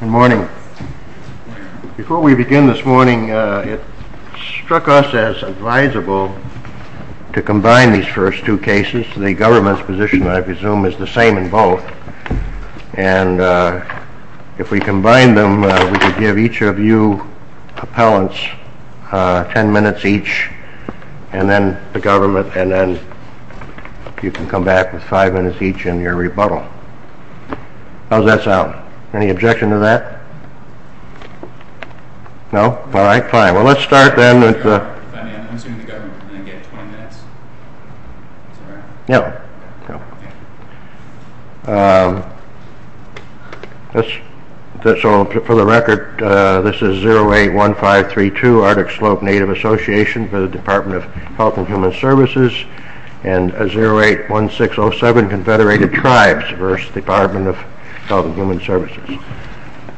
Good morning. Before we begin this morning, it struck us as advisable to combine these first two cases. The government's position, I presume, is the same in both. And if we combine them, we could give each of you appellants ten minutes each, and then the government, and then you can come back with five minutes each in your rebuttal. How's that sound? Any objection to that? No? All right, fine. Well, let's start then with the... If I may, I'm assuming the government can then get 20 minutes? Is that right? Yeah. So, for the record, this is 081532 Arctic Slope Native Association for the Department of Health and Human Services and 081607 Confederated Tribes v. Department of Health and Human Services.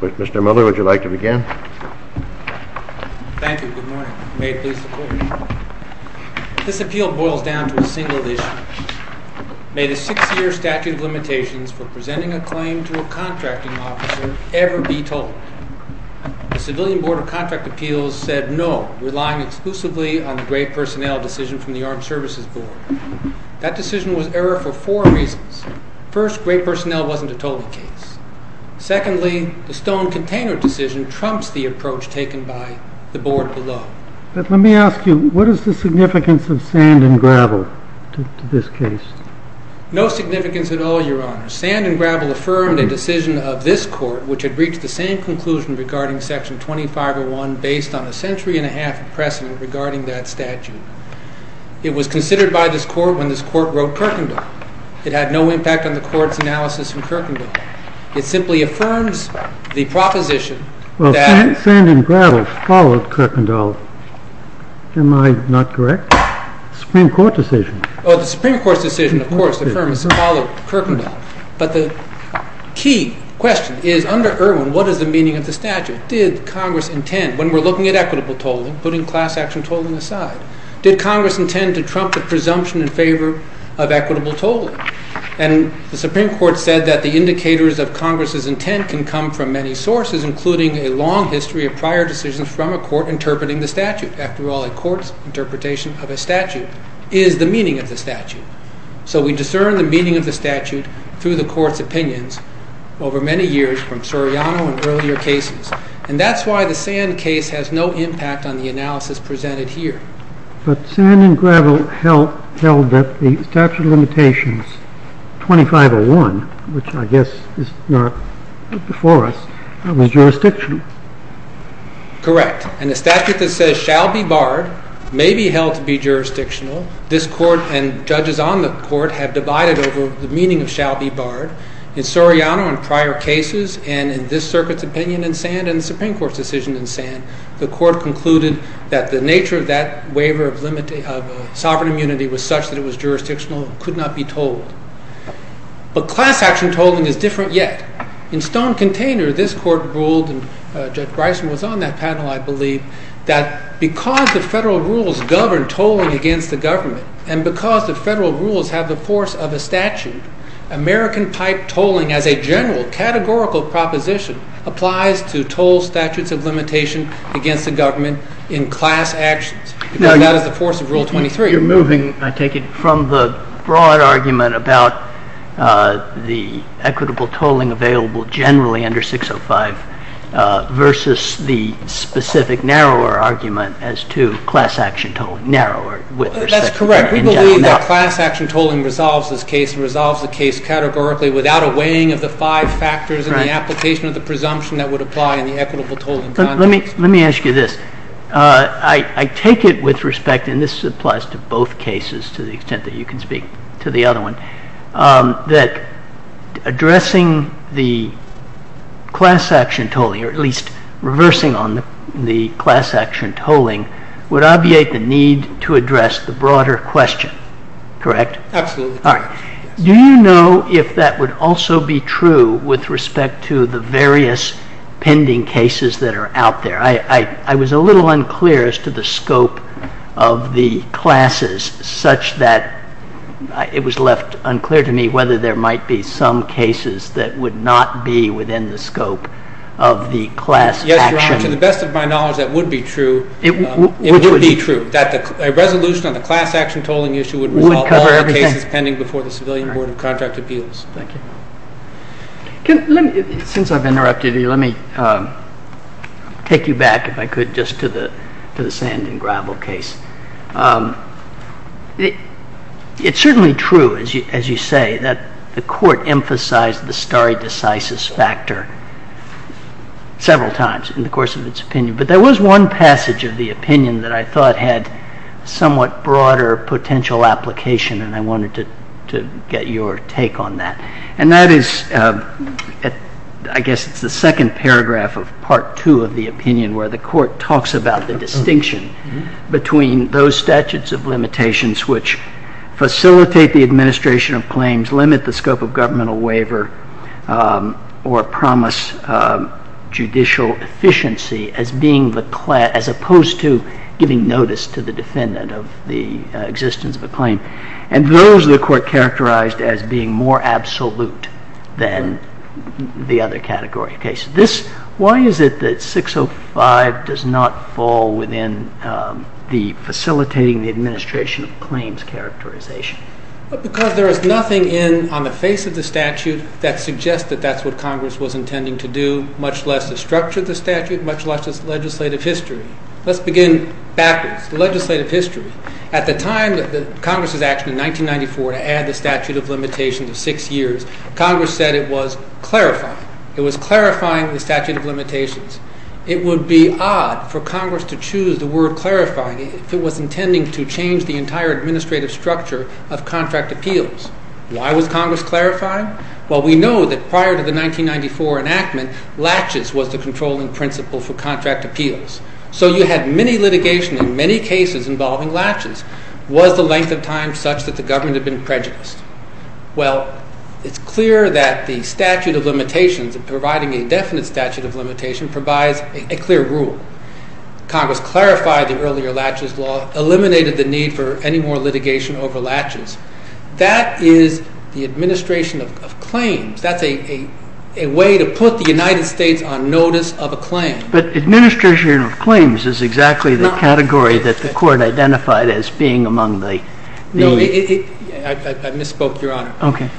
Mr. Miller, would you like to begin? Thank you. Good morning. May it please the Court. This appeal boils down to a single issue. May the six-year statute of limitations for presenting a claim to a contracting officer ever be told. The Civilian Board of Contract Appeals said no, relying exclusively on the Great Personnel decision from the Armed Services Board. That decision was error for four reasons. First, Great Personnel wasn't a tolling case. Secondly, the stone container decision trumps the approach taken by the Board below. But let me ask you, what is the significance of sand and gravel to this case? No significance at all, Your Honor. Sand and gravel affirmed a decision of this Court which had reached the same conclusion regarding Section 2501 based on a century and a half of precedent regarding that statute. It was considered by this Court when this Court wrote Kirkendall. It had no impact on the Court's analysis in Kirkendall. It simply affirms the proposition that... Well, sand and gravel followed Kirkendall. Am I not correct? Supreme Court decision. Oh, the Supreme Court's decision, of course, affirms Kirkendall. But the key question is, under Irwin, what is the meaning of the statute? Did Congress intend, when we're looking at equitable tolling, putting class action tolling aside, did Congress intend to trump the presumption in favor of equitable tolling? And the Supreme Court said that the indicators of Congress's intent can come from many sources, including a long history of prior decisions from a court interpreting the statute. After all, a court's interpretation of a statute is the meaning of the statute. So we discern the meaning of the statute through the Court's opinions over many years, from Soriano and earlier cases. And that's why the sand case has no impact on the analysis presented here. But sand and gravel held that the statute of limitations, 2501, which I guess is not before us, was jurisdictional. Correct. And the statute that says shall be barred may be held to be jurisdictional. This Court and judges on the Court have divided over the meaning of shall be barred. In Soriano and prior cases, and in this circuit's opinion in sand and the Supreme Court's decision in sand, the Court concluded that the nature of that waiver of sovereign immunity was such that it was jurisdictional and could not be tolled. But class action tolling is different yet. In Stone Container, this Court ruled, and Judge Bryson was on that panel, I believe, that because the federal rules govern tolling against the government, and because the federal rules have the force of a statute, American pipe tolling as a general categorical proposition applies to toll statutes of limitation against the government in class actions, because that is the force of Rule 23. I take it from the broad argument about the equitable tolling available generally under 605 versus the specific narrower argument as to class action tolling, narrower. That's correct. We believe that class action tolling resolves this case, and resolves the case categorically without a weighing of the five factors and the application of the presumption that would apply in the equitable tolling context. Let me ask you this. I take it with respect, and this applies to both cases to the extent that you can speak to the other one, that addressing the class action tolling, or at least reversing on the class action tolling, would obviate the need to address the broader question, correct? Absolutely. Do you know if that would also be true with respect to the various pending cases that are out there? I was a little unclear as to the scope of the classes, such that it was left unclear to me whether there might be some cases that would not be within the scope of the class action. Yes, Your Honor. To the best of my knowledge, that would be true. It would be true, that a resolution on the class action tolling issue would resolve all the cases pending before the Civilian Board of Contract Appeals. Thank you. Since I've interrupted you, let me take you back, if I could, just to the sand and gravel case. It's certainly true, as you say, that the Court emphasized the stare decisis factor several times in the course of its opinion, but there was one passage of the opinion that I thought had somewhat broader potential application, and I wanted to get your take on that. And that is, I guess it's the second paragraph of Part 2 of the opinion, where the Court talks about the distinction between those statutes of limitations which facilitate the administration of claims, limit the scope of governmental waiver, or promise judicial efficiency as opposed to giving notice to the defendant of the existence of a claim, and those the Court characterized as being more absolute than the other category of cases. Why is it that 605 does not fall within the facilitating the administration of claims characterization? Because there is nothing on the face of the statute that suggests that that's what Congress was intending to do, much less the structure of the statute, much less its legislative history. Let's begin backwards, legislative history. At the time of Congress's action in 1994 to add the statute of limitations of six years, Congress said it was clarifying. It was clarifying the statute of limitations. It would be odd for Congress to choose the word clarifying if it was intending to change the entire administrative structure of contract appeals. Why was Congress clarifying? Well, we know that prior to the 1994 enactment, laches was the controlling principle for contract appeals. So you had many litigation in many cases involving laches. Was the length of time such that the government had been prejudiced? Well, it's clear that the statute of limitations, providing a definite statute of limitation, provides a clear rule. Congress clarified the earlier laches law, eliminated the need for any more litigation over laches. That is the administration of claims. That's a way to put the United States on notice of a claim. But administration of claims is exactly the category that the court identified as being among the... No, I misspoke, Your Honor. Okay.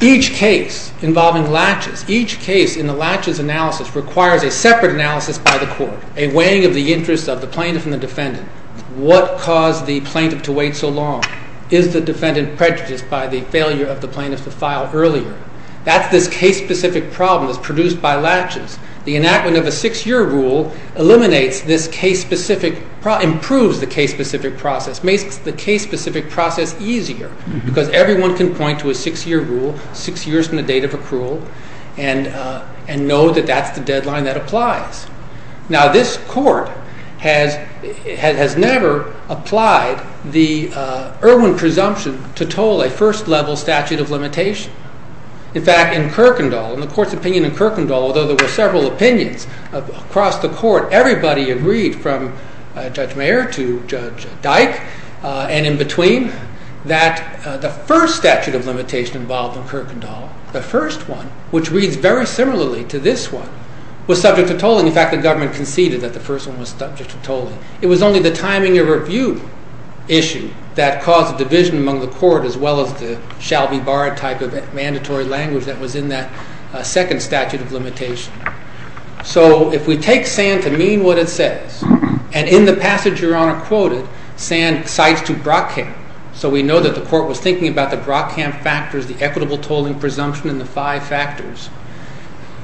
Each case involving laches, each case in the laches analysis requires a separate analysis by the court, a weighing of the interests of the plaintiff and the defendant. What caused the plaintiff to wait so long? Is the defendant prejudiced by the failure of the plaintiff to file earlier? That's this case-specific problem that's produced by laches. The enactment of a six-year rule eliminates this case-specific, improves the case-specific process, makes the case-specific process easier because everyone can point to a six-year rule, six years from the date of accrual, and know that that's the deadline that applies. Now, this court has never applied the Irwin presumption to toll a first-level statute of limitation. In fact, in Kirkendall, in the court's opinion in Kirkendall, although there were several opinions across the court, everybody agreed from Judge Mayer to Judge Dyke and in between that the first statute of limitation involved in Kirkendall, the first one, which reads very similarly to this one, was subject to tolling. In fact, the government conceded that the first one was subject to tolling. It was only the timing of review issue that caused the division among the court as well as the shall-be-barred type of mandatory language that was in that second statute of limitation. So if we take Sand to mean what it says, and in the passage Your Honor quoted, Sand cites to Brockamp, so we know that the court was thinking about the Brockamp factors, the equitable tolling presumption, and the five factors,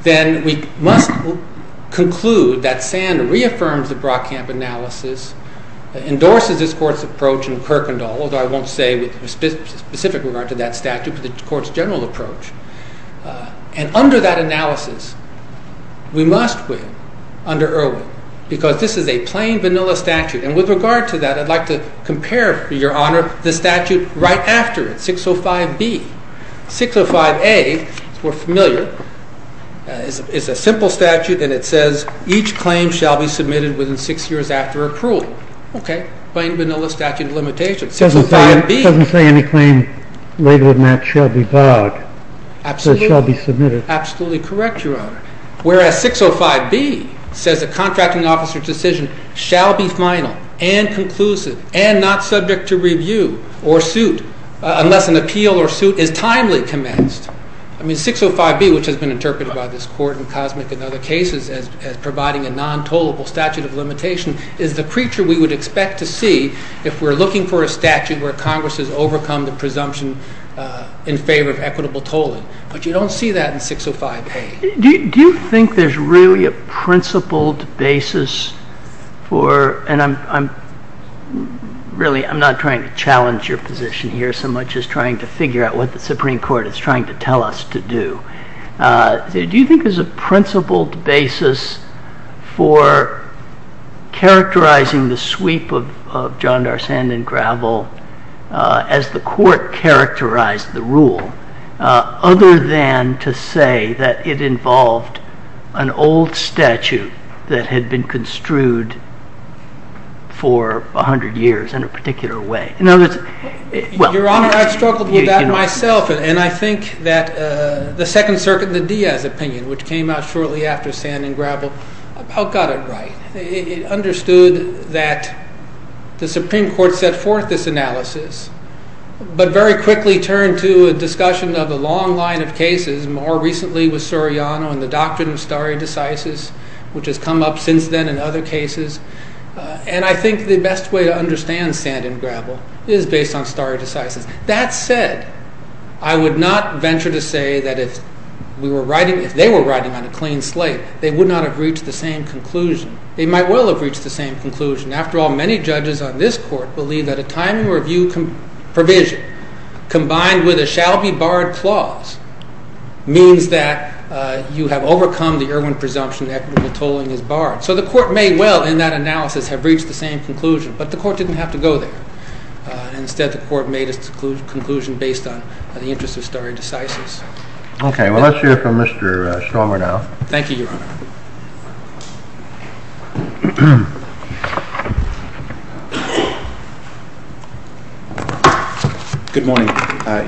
then we must conclude that Sand reaffirms the Brockamp analysis, endorses this court's approach in Kirkendall, although I won't say with specific regard to that statute, but the court's general approach, and under that analysis we must win under Irwin because this is a plain vanilla statute, and with regard to that I'd like to compare, Your Honor, the statute right after it, 605B. 605A, if we're familiar, is a simple statute and it says each claim shall be submitted within six years after approval. Okay, plain vanilla statute of limitation, 605B. It doesn't say any claim later than that shall be barred, but shall be submitted. Absolutely correct, Your Honor. Whereas 605B says a contracting officer's decision shall be final and conclusive and not subject to review or suit unless an appeal or suit is timely commenced. I mean, 605B, which has been interpreted by this court and Cosmic in other cases as providing a non-tollable statute of limitation, is the creature we would expect to see if we're looking for a statute where Congress has overcome the presumption in favor of equitable tolling, but you don't see that in 605A. Do you think there's really a principled basis for, and I'm really, I'm not trying to challenge your position here so much as trying to figure out what the Supreme Court is trying to tell us to do. Do you think there's a principled basis for characterizing the sweep of John D'Arsene and Gravel as the court characterized the rule, other than to say that it involved an old statute that had been construed for 100 years in a particular way? Your Honor, I've struggled with that myself, and I think that the Second Circuit and the Diaz opinion, which came out shortly after Sand and Gravel, about got it right. It understood that the Supreme Court set forth this analysis, but very quickly turned to a discussion of a long line of cases, more recently with Soriano and the doctrine of stare decisis, which has come up since then in other cases. And I think the best way to understand Sand and Gravel is based on stare decisis. That said, I would not venture to say that if we were writing, if they were writing on a clean slate, they would not have reached the same conclusion. They might well have reached the same conclusion. After all, many judges on this court believe that a time review provision combined with a shall be barred clause means that you have overcome the Irwin presumption that equitable tolling is barred. So the court may well, in that analysis, have reached the same conclusion. But the court didn't have to go there. Instead, the court made its conclusion based on the interest of stare decisis. Okay. Well, let's hear from Mr. Stormer now. Thank you, Your Honor. Good morning,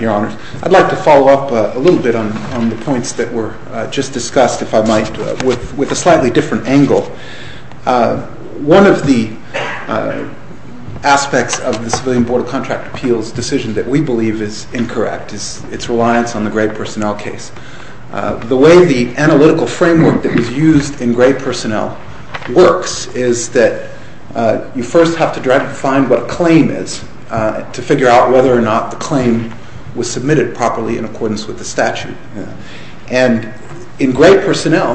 Your Honor. I'd like to follow up a little bit on the points that were just discussed, if I might, with a slightly different angle. One of the aspects of the Civilian Board of Contract Appeals decision that we believe is incorrect is its reliance on the grade personnel case. The way the analytical framework that was used in grade personnel works is that you first have to find what a claim is to figure out whether or not the claim was submitted properly in accordance with the statute. And in grade personnel,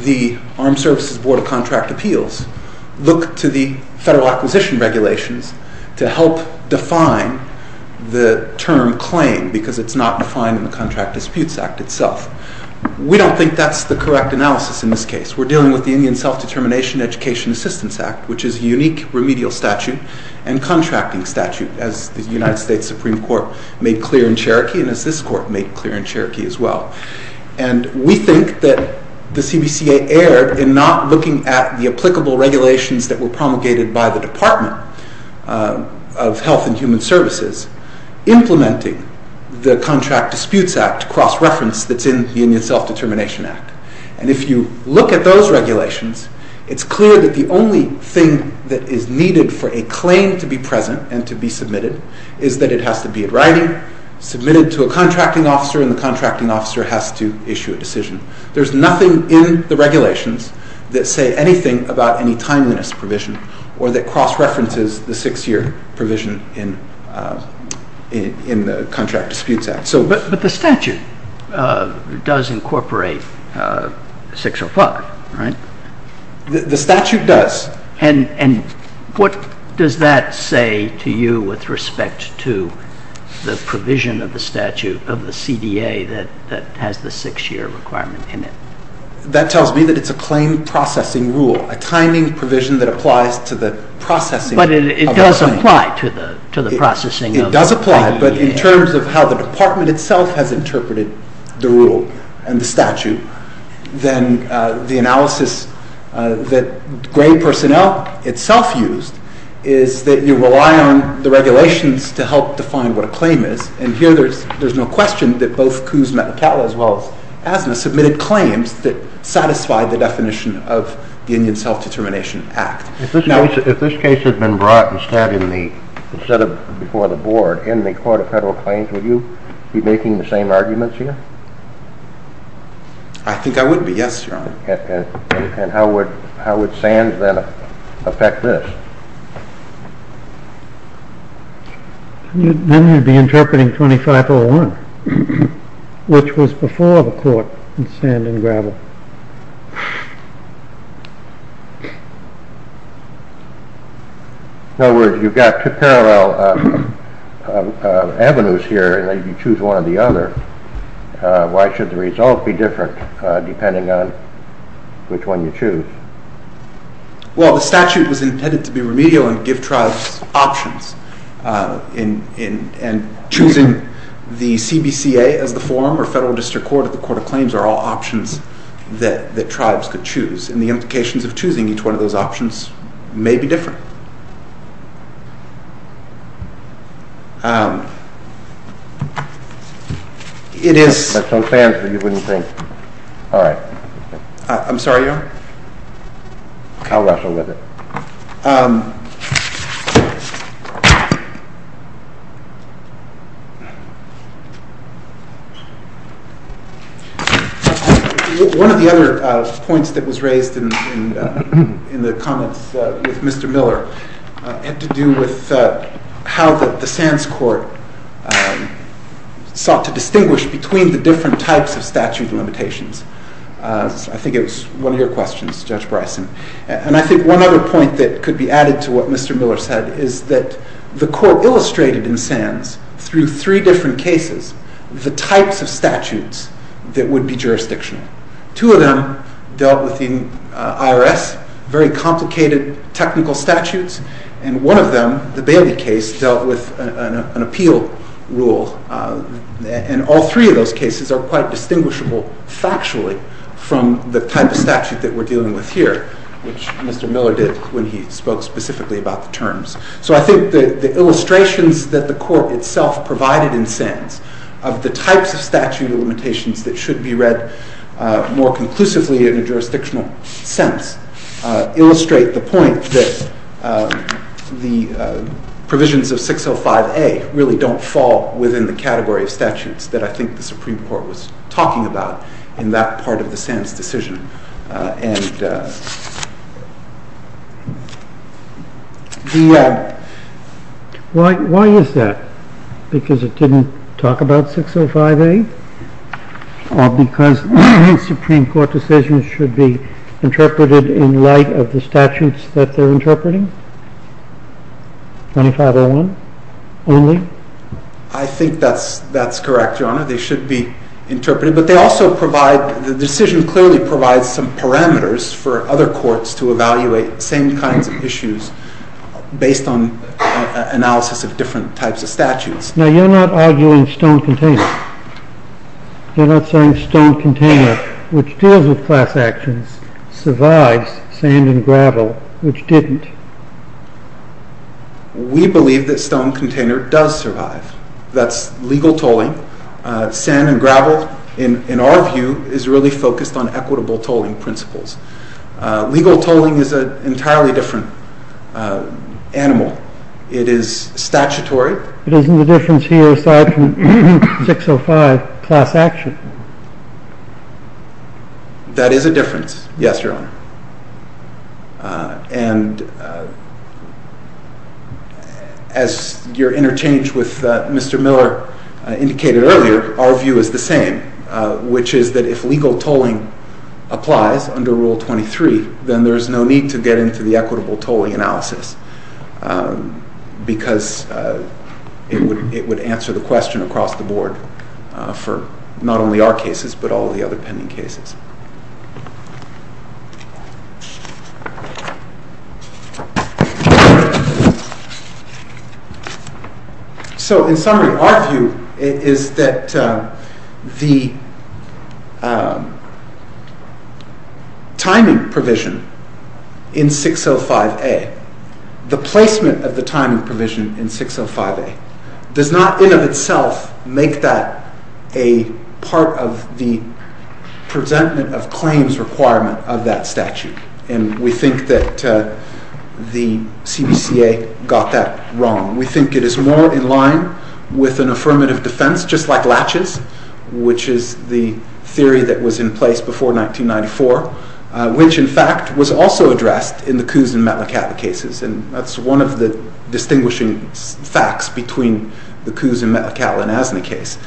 the Armed Services Board of Contract Appeals look to the federal acquisition regulations to help define the term claim because it's not defined in the Contract Disputes Act itself. We don't think that's the correct analysis in this case. We're dealing with the Indian Self-Determination Education Assistance Act, which is a unique remedial statute and contracting statute, as the United States Supreme Court made clear in Cherokee and as this Court made clear in Cherokee as well. And we think that the CBCA erred in not looking at the applicable regulations that were promulgated by the Department of Health and Human Services implementing the Contract Disputes Act cross-reference that's in the Indian Self-Determination Act. And if you look at those regulations, it's clear that the only thing that is needed for a claim to be present and to be submitted is that it has to be in writing, submitted to a contracting officer, and the contracting officer has to issue a decision. There's nothing in the regulations that say anything about any timeliness provision or that cross-references the six-year provision in the Contract Disputes Act. But the statute does incorporate 605, right? The statute does. And what does that say to you with respect to the provision of the statute of the CDA that has the six-year requirement in it? That tells me that it's a claim processing rule, a timing provision that applies to the processing of the claim. But it does apply to the processing of the claim. It does apply, but in terms of how the Department itself has interpreted the rule and the statute, then the analysis that grade personnel itself used is that you rely on the regulations to help define what a claim is. And here there's no question that both Coos, Metcalfe, as well as Asna submitted claims that satisfied the definition of the Indian Self-Determination Act. If this case had been brought instead before the Board in the Court of Federal Claims, would you be making the same arguments here? I think I would be, yes, Your Honor. And how would SANS then affect this? Then you'd be interpreting 2501, which was before the court in sand and gravel. In other words, you've got two parallel avenues here, and then you choose one or the other. Why should the result be different depending on which one you choose? Well, the statute was intended to be remedial and give tribes options. And choosing the CBCA as the forum or Federal District Court or the Court of Claims are all options that tribes could choose. And the implications of choosing each one of those options may be different. It is... That's a fair answer, you wouldn't think. All right. I'm sorry, Your Honor? I'll wrestle with it. One of the other points that was raised in the comments with Mr. Miller had to do with how the SANS court sought to distinguish between the different types of statute limitations. I think it was one of your questions, Judge Bryson. And I think one other point that could be added to what Mr. Miller said is that the court illustrated in SANS, through three different cases, the types of statutes that would be jurisdictional. Two of them dealt with the IRS, very complicated technical statutes. And one of them, the Bailey case, dealt with an appeal rule. And all three of those cases are quite distinguishable factually from the type of statute that we're dealing with here, which Mr. Miller did when he spoke specifically about the terms. So I think the illustrations that the court itself provided in SANS of the types of statute limitations that should be read more conclusively in a jurisdictional sense illustrate the point that the provisions of 605A really don't fall within the category of statutes that I think the Supreme Court was talking about in that part of the SANS decision. Why is that? Because it didn't talk about 605A? Or because Supreme Court decisions should be interpreted in light of the statutes that they're interpreting? 2501 only? I think that's correct, Your Honor. They should be interpreted. It provides some parameters for other courts to evaluate same kinds of issues based on analysis of different types of statutes. Now, you're not arguing stone container. You're not saying stone container, which deals with class actions, survives sand and gravel, which didn't. We believe that stone container does survive. That's legal tolling. Sand and gravel, in our view, is really focused on equitable tolling principles. Legal tolling is an entirely different animal. It is statutory. But isn't the difference here, aside from 605, class action? That is a difference, yes, Your Honor. And as you're interchanged with Mr. Miller indicated earlier, our view is the same, which is that if legal tolling applies under Rule 23, then there's no need to get into the equitable tolling analysis because it would answer the question across the board for not only our cases but all the other pending cases. So, in summary, our view is that the timing provision in 605A, the placement of the timing provision in 605A, does not, in of itself, make that a part of the presentment of claims requirement of that statute. And we think that the CBCA got that wrong. We think it is more in line with an affirmative defense, just like Latches, which is the theory that was in place before 1994, which, in fact, was also addressed in the Coos and Metlacatla cases. And that's one of the distinguishing facts between the Coos and Metlacatla and ASNA case.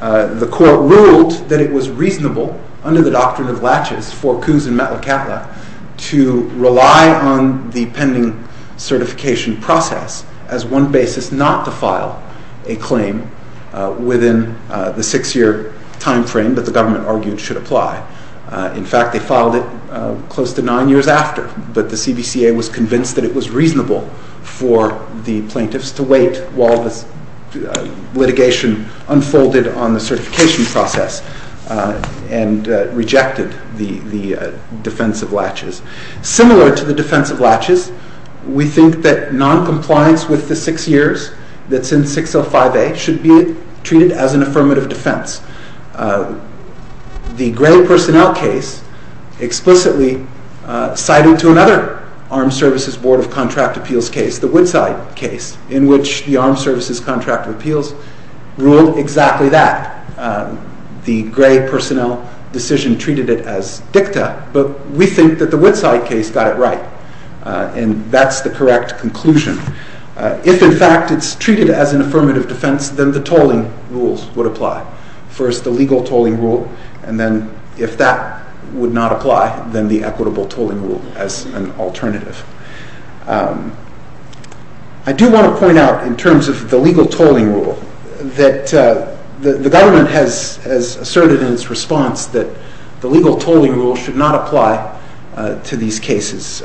The Court ruled that it was reasonable, under the doctrine of Latches, for Coos and Metlacatla to rely on the pending certification process as one basis not to file a claim within the six-year timeframe that the government argued should apply. In fact, they filed it close to nine years after, but the CBCA was convinced that it was reasonable for the plaintiffs to wait while this litigation unfolded on the certification process, and rejected the defense of Latches. Similar to the defense of Latches, we think that noncompliance with the six years that's in 605A should be treated as an affirmative defense. The Gray Personnel case explicitly cited to another Armed Services Board of Contract Appeals case, the Woodside case, in which the Armed Services Contract of Appeals ruled exactly that. The Gray Personnel decision treated it as dicta, but we think that the Woodside case got it right, and that's the correct conclusion. If, in fact, it's treated as an affirmative defense, then the tolling rules would apply. First, the legal tolling rule, and then, if that would not apply, then the equitable tolling rule as an alternative. I do want to point out, in terms of the legal tolling rule, that the government has asserted in its response that the legal tolling rule should not apply to these cases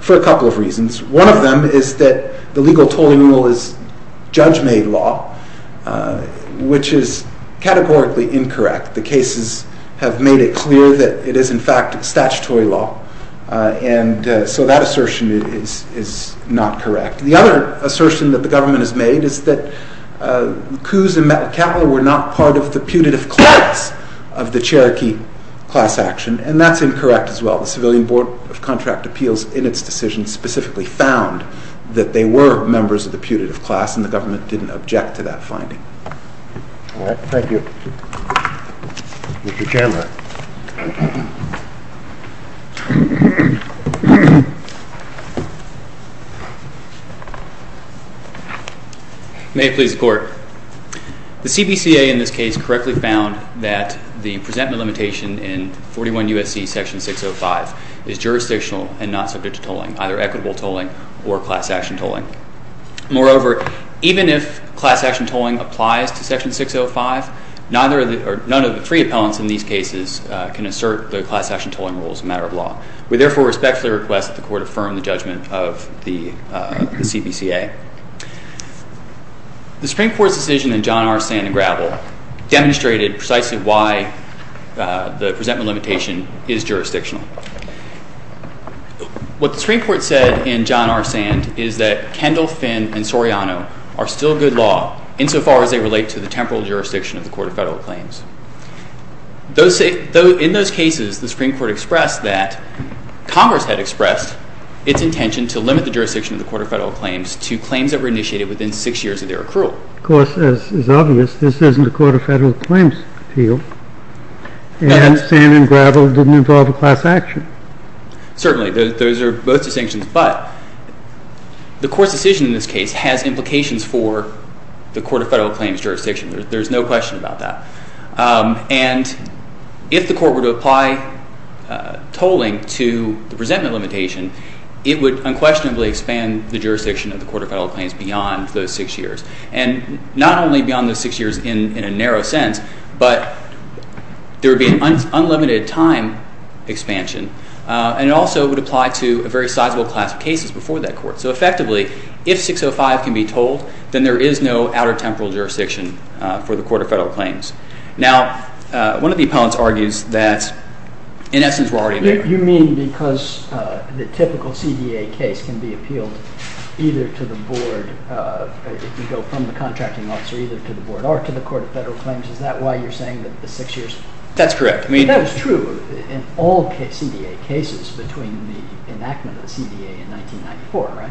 for a couple of reasons. One of them is that the legal tolling rule is judge-made law, which is categorically incorrect. The cases have made it clear that it is, in fact, statutory law, and so that assertion is not correct. The other assertion that the government has made is that coups in Metcalfe were not part of the putative class of the Cherokee class action, and that's incorrect as well. The Civilian Board of Contract Appeals, in its decision, specifically found that they were members of the putative class, and the government didn't object to that finding. All right. Thank you. Mr. Chandler. May it please the Court. The CBCA, in this case, correctly found that the presentment limitation in 41 U.S.C. section 605 is jurisdictional and not subject to tolling, either equitable tolling or class action tolling. Moreover, even if class action tolling applies to section 605, none of the three appellants in these cases can assert the class action tolling rule as a matter of law. We therefore respectfully request that the Court affirm the judgment of the CBCA. The Supreme Court's decision in John R. Sand and Gravel demonstrated precisely why the presentment limitation is jurisdictional. What the Supreme Court said in John R. Sand is that Kendall, Finn, and Soriano are still good law insofar as they relate to the temporal jurisdiction of the Court of Federal Claims. In those cases, the Supreme Court expressed that Congress had expressed its intention to limit the jurisdiction of the Court of Federal Claims to claims that were initiated within six years of their accrual. Of course, as is obvious, this isn't a Court of Federal Claims field. And Sand and Gravel didn't involve a class action. Certainly. Those are both distinctions. But the Court's decision in this case has implications for the Court of Federal Claims jurisdiction. There's no question about that. And if the Court were to apply tolling to the presentment limitation, it would unquestionably expand the jurisdiction of the Court of Federal Claims beyond those six years. And not only beyond those six years in a narrow sense, but there would be an unlimited time expansion. And it also would apply to a very sizable class of cases before that Court. So effectively, if 605 can be tolled, then there is no outer temporal jurisdiction for the Court of Federal Claims. Now, one of the opponents argues that, in essence, we're already there. You mean because the typical CDA case can be appealed either to the board, if you go from the contracting officer, either to the board or to the Court of Federal Claims? Is that why you're saying that the six years? That's correct. That was true in all CDA cases between the enactment of the CDA in 1994, right?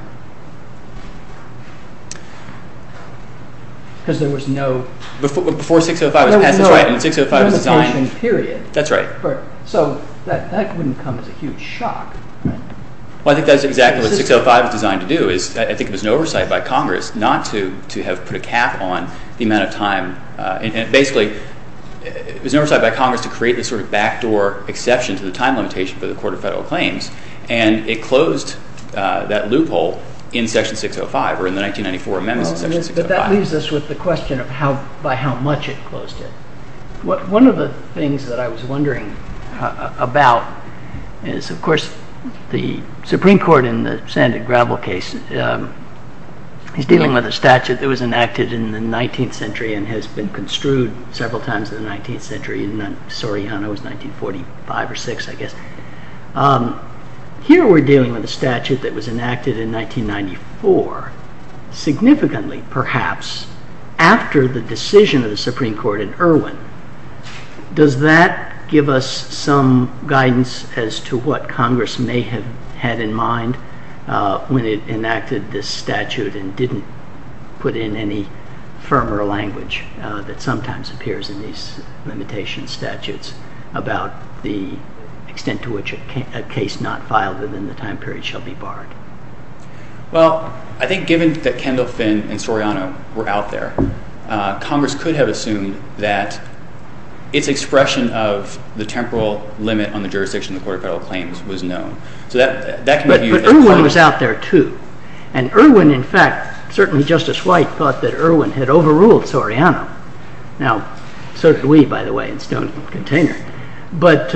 Because there was no – Before 605 was passed, that's right, and 605 was designed. There was no expansion period. That's right. So that wouldn't come as a huge shock, right? Well, I think that's exactly what 605 was designed to do. I think it was an oversight by Congress not to have put a cap on the amount of time. And basically, it was an oversight by Congress to create this sort of backdoor exception to the time limitation for the Court of Federal Claims. And it closed that loophole in Section 605 or in the 1994 amendments to Section 605. But that leaves us with the question of by how much it closed it. One of the things that I was wondering about is, of course, the Supreme Court in the Sand and Gravel case. He's dealing with a statute that was enacted in the 19th century and has been construed several times in the 19th century. Soriano was 1945 or 1946, I guess. Here we're dealing with a statute that was enacted in 1994, significantly, perhaps, after the decision of the Supreme Court in Irwin. Does that give us some guidance as to what Congress may have had in mind when it enacted this statute and didn't put in any firmer language that sometimes appears in these limitation statutes about the extent to which a case not filed within the time period shall be barred? Well, I think given that Kendall, Finn, and Soriano were out there, Congress could have assumed that its expression of the temporal limit on the jurisdiction of the Court of Federal Claims was known. But Irwin was out there, too. And Irwin, in fact, certainly Justice White thought that Irwin had overruled Soriano. Now, so did we, by the way, in Stone Container. But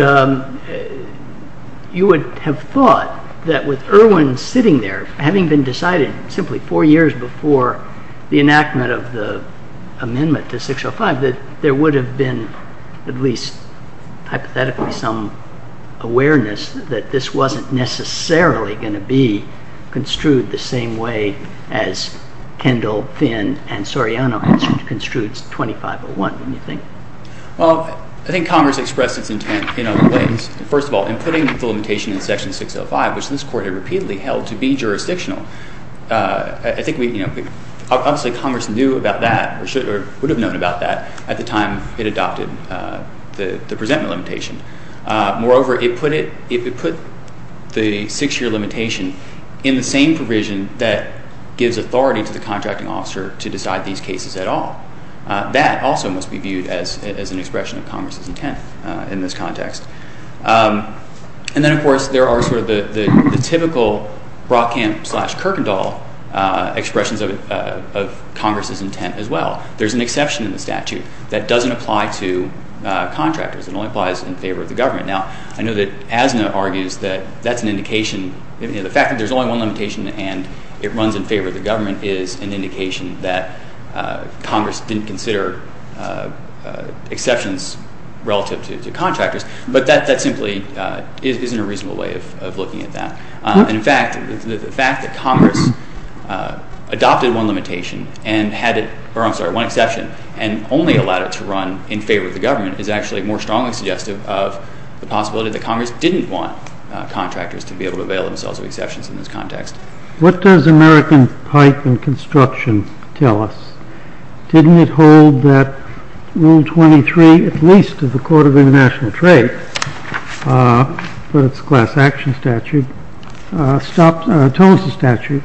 you would have thought that with Irwin sitting there, having been decided simply four years before the enactment of the amendment to 605, that there would have been at least hypothetically some awareness that this wasn't necessarily going to be construed the same way as Kendall, Finn, and Soriano construed 2501, don't you think? Well, I think Congress expressed its intent in other ways. First of all, in putting the limitation in Section 605, which this Court had repeatedly held to be jurisdictional, I think obviously Congress knew about that or would have known about that at the time it adopted the presentment limitation. Moreover, it put the six-year limitation in the same provision that gives authority to the contracting officer to decide these cases at all. That also must be viewed as an expression of Congress's intent in this context. And then, of course, there are sort of the typical Brockamp-slash-Kirkendall expressions of Congress's intent as well. There's an exception in the statute that doesn't apply to contractors. It only applies in favor of the government. Now, I know that Asna argues that that's an indication. The fact that there's only one limitation and it runs in favor of the government is an indication that Congress didn't consider exceptions relative to contractors. But that simply isn't a reasonable way of looking at that. And, in fact, the fact that Congress adopted one limitation and had it—or, I'm sorry, one exception and only allowed it to run in favor of the government is actually more strongly suggestive of the possibility that Congress didn't want contractors to be able to avail themselves of exceptions in this context. What does American pipe and construction tell us? Didn't it hold that Rule 23, at least of the Court of International Trade, but it's a class action statute, stops—tones the statute?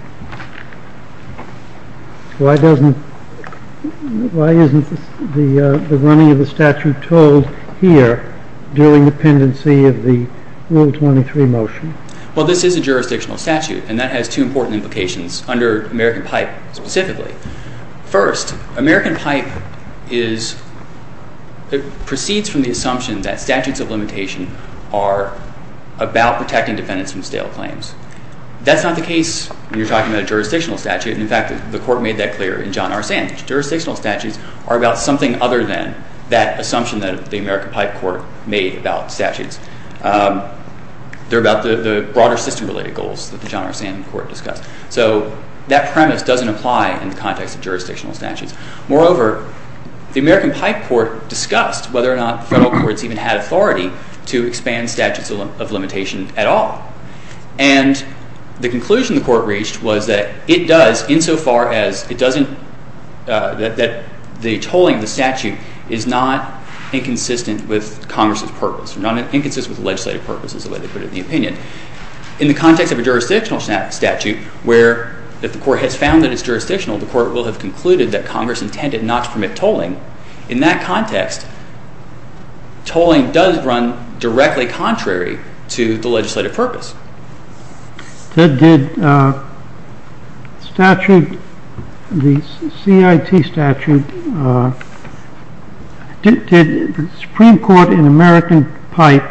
Why doesn't—why isn't the running of the statute told here during the pendency of the Rule 23 motion? Well, this is a jurisdictional statute, and that has two important implications under American pipe specifically. First, American pipe is—it proceeds from the assumption that statutes of limitation are about protecting defendants from stale claims. That's not the case when you're talking about a jurisdictional statute. And, in fact, the Court made that clear in John R. Sand, that jurisdictional statutes are about something other than that assumption that the American pipe Court made about statutes. They're about the broader system-related goals that the John R. Sand Court discussed. So that premise doesn't apply in the context of jurisdictional statutes. Moreover, the American pipe Court discussed whether or not federal courts even had authority to expand statutes of limitation at all. And the conclusion the Court reached was that it does, insofar as it doesn't—that the tolling of the statute is not inconsistent with Congress's purpose. It's not inconsistent with legislative purposes, the way they put it in the opinion. In the context of a jurisdictional statute, where if the Court has found that it's jurisdictional, the Court will have concluded that Congress intended not to permit tolling. In that context, tolling does run directly contrary to the legislative purpose. Did statute—the CIT statute—did the Supreme Court in American pipe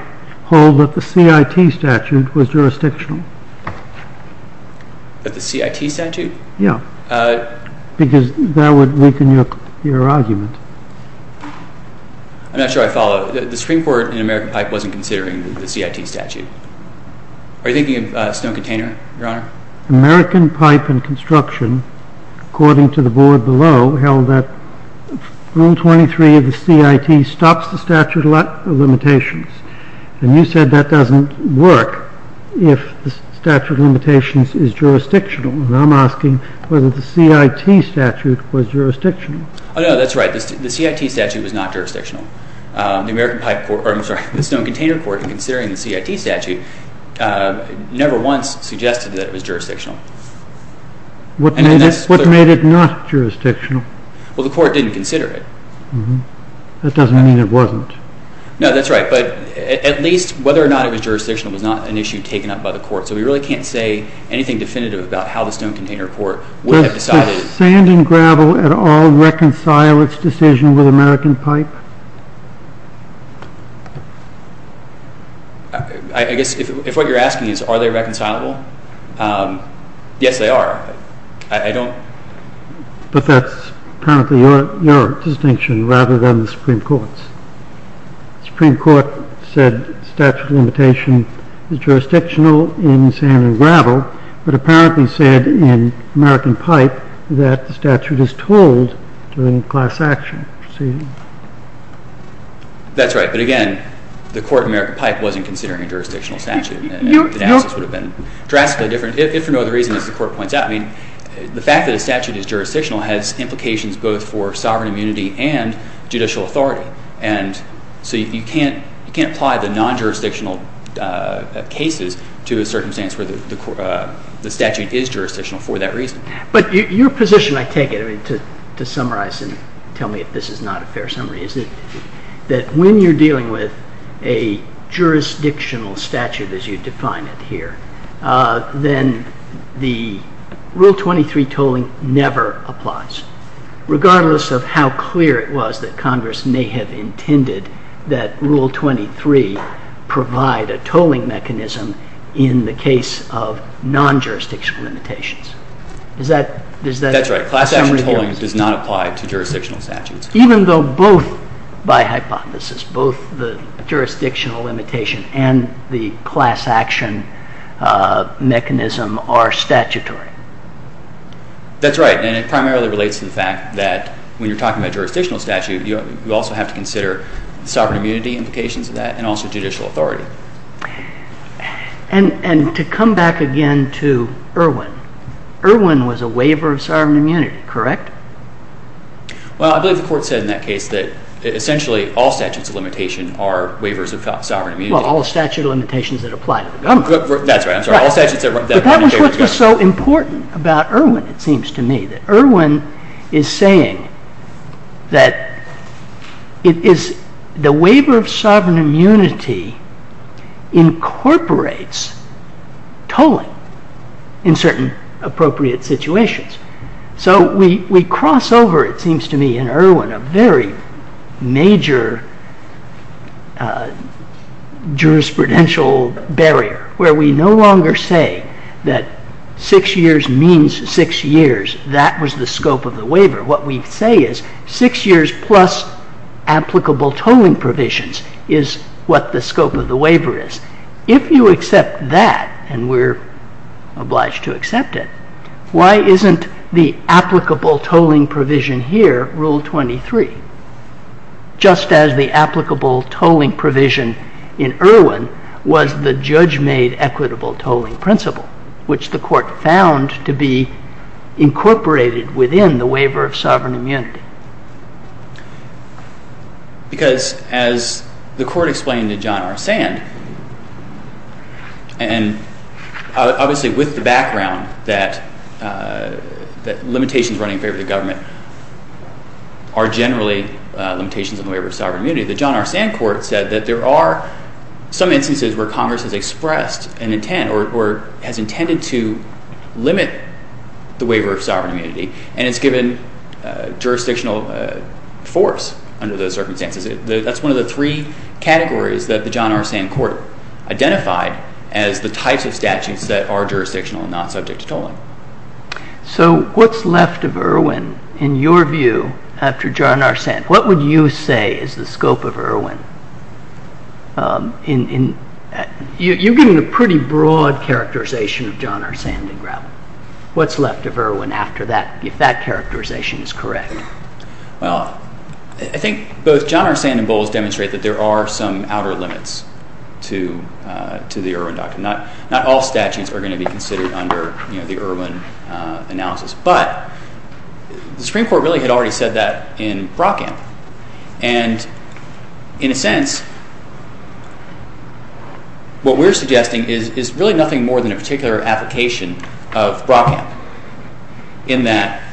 hold that the CIT statute was jurisdictional? The CIT statute? Yeah, because that would weaken your argument. I'm not sure I follow. The Supreme Court in American pipe wasn't considering the CIT statute. Are you thinking of Stone Container, Your Honor? American pipe and construction, according to the board below, held that Rule 23 of the CIT stops the statute of limitations. And you said that doesn't work if the statute of limitations is jurisdictional. And I'm asking whether the CIT statute was jurisdictional. Oh, no, that's right. The CIT statute was not jurisdictional. The Stone Container Court, in considering the CIT statute, never once suggested that it was jurisdictional. What made it not jurisdictional? Well, the Court didn't consider it. That doesn't mean it wasn't. No, that's right. But at least whether or not it was jurisdictional was not an issue taken up by the Court. So we really can't say anything definitive about how the Stone Container Court would have decided. Does sand and gravel at all reconcile its decision with American pipe? I guess if what you're asking is are they reconcilable, yes, they are. But that's apparently your distinction rather than the Supreme Court's. The Supreme Court said statute of limitation is jurisdictional in sand and gravel, but apparently said in American pipe that the statute is told during class action proceedings. That's right. But again, the Court of American pipe wasn't considering a jurisdictional statute. The analysis would have been drastically different if for no other reason, as the Court points out. I mean, the fact that a statute is jurisdictional has implications both for sovereign immunity and judicial authority. So you can't apply the non-jurisdictional cases to a circumstance where the statute is jurisdictional for that reason. But your position, I take it, to summarize and tell me if this is not a fair summary, is that when you're dealing with a jurisdictional statute as you define it here, then the Rule 23 tolling never applies, regardless of how clear it was that Congress may have intended that Rule 23 provide a tolling mechanism in the case of non-jurisdictional limitations. That's right. Class action tolling does not apply to jurisdictional statutes. Even though both, by hypothesis, both the jurisdictional limitation and the class action mechanism are statutory? That's right. And it primarily relates to the fact that when you're talking about jurisdictional statute, you also have to consider sovereign immunity implications of that and also judicial authority. And to come back again to Irwin, Irwin was a waiver of sovereign immunity, correct? Well, I believe the Court said in that case that essentially all statutes of limitation are waivers of sovereign immunity. Well, all statute of limitations that apply to the government. That's right. I'm sorry. All statutes that apply to the government. That's what's so important about Irwin, it seems to me. Irwin is saying that the waiver of sovereign immunity incorporates tolling in certain appropriate situations. So we cross over, it seems to me, in Irwin a very major jurisprudential barrier where we no longer say that six years means six years. That was the scope of the waiver. What we say is six years plus applicable tolling provisions is what the scope of the waiver is. If you accept that, and we're obliged to accept it, why isn't the applicable tolling provision here, Rule 23, just as the applicable tolling provision in Irwin was the judge-made equitable tolling principle, which the Court found to be incorporated within the waiver of sovereign immunity? Because as the Court explained to John R. Sand, and obviously with the background that limitations running in favor of the government are generally limitations on the waiver of sovereign immunity, the John R. Sand Court said that there are some instances where Congress has expressed an intent or has intended to limit the waiver of sovereign immunity, and it's given jurisdictional force under those circumstances. That's one of the three categories that the John R. Sand Court identified as the types of statutes that are jurisdictional and not subject to tolling. So what's left of Irwin, in your view, after John R. Sand? What would you say is the scope of Irwin? You're giving a pretty broad characterization of John R. Sand in Gravel. What's left of Irwin after that, if that characterization is correct? Well, I think both John R. Sand and Bowles demonstrate that there are some outer limits to the Irwin document. Not all statutes are going to be considered under the Irwin analysis, but the Supreme Court really had already said that in Brockamp, and in a sense what we're suggesting is really nothing more than a particular application of Brockamp in that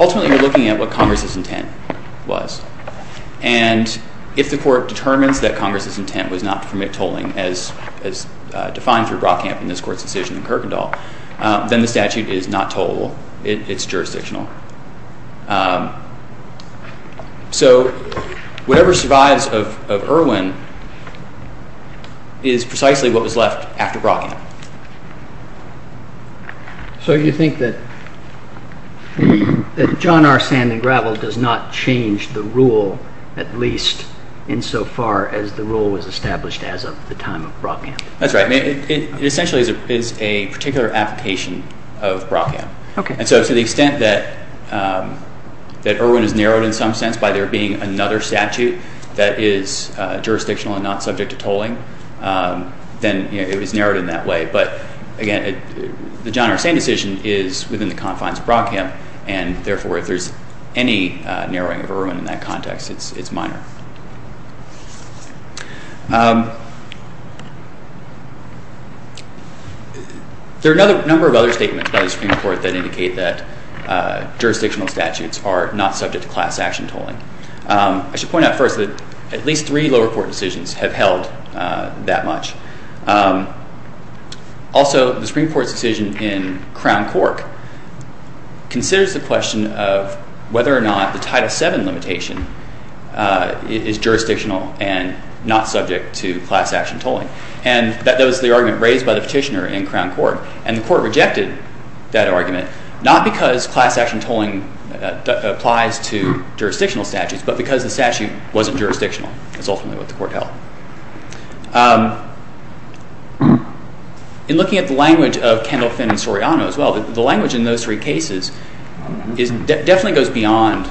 ultimately you're looking at what Congress's intent was, and if the Court determines that Congress's intent was not to permit tolling, as defined through Brockamp in this Court's decision in Kirkendall, then the statute is not tollable. It's jurisdictional. So whatever survives of Irwin is precisely what was left after Brockamp. So you think that John R. Sand in Gravel does not change the rule, at least insofar as the rule was established as of the time of Brockamp? That's right. It essentially is a particular application of Brockamp, and so to the extent that Irwin is narrowed in some sense by there being another statute that is jurisdictional and not subject to tolling, then it was narrowed in that way. But again, the John R. Sand decision is within the confines of Brockamp, and therefore if there's any narrowing of Irwin in that context, it's minor. There are a number of other statements by the Supreme Court that indicate that jurisdictional statutes are not subject to class-action tolling. I should point out first that at least three lower court decisions have held that much. Also, the Supreme Court's decision in Crown Court considers the question of whether or not the Title VII limitation is jurisdictional and not subject to class-action tolling. And that was the argument raised by the Petitioner in Crown Court, and the Court rejected that argument, not because class-action tolling applies to jurisdictional statutes, but because the statute wasn't jurisdictional, as ultimately what the Court held. In looking at the language of Kendall, Finn, and Soriano as well, the language in those three cases definitely goes beyond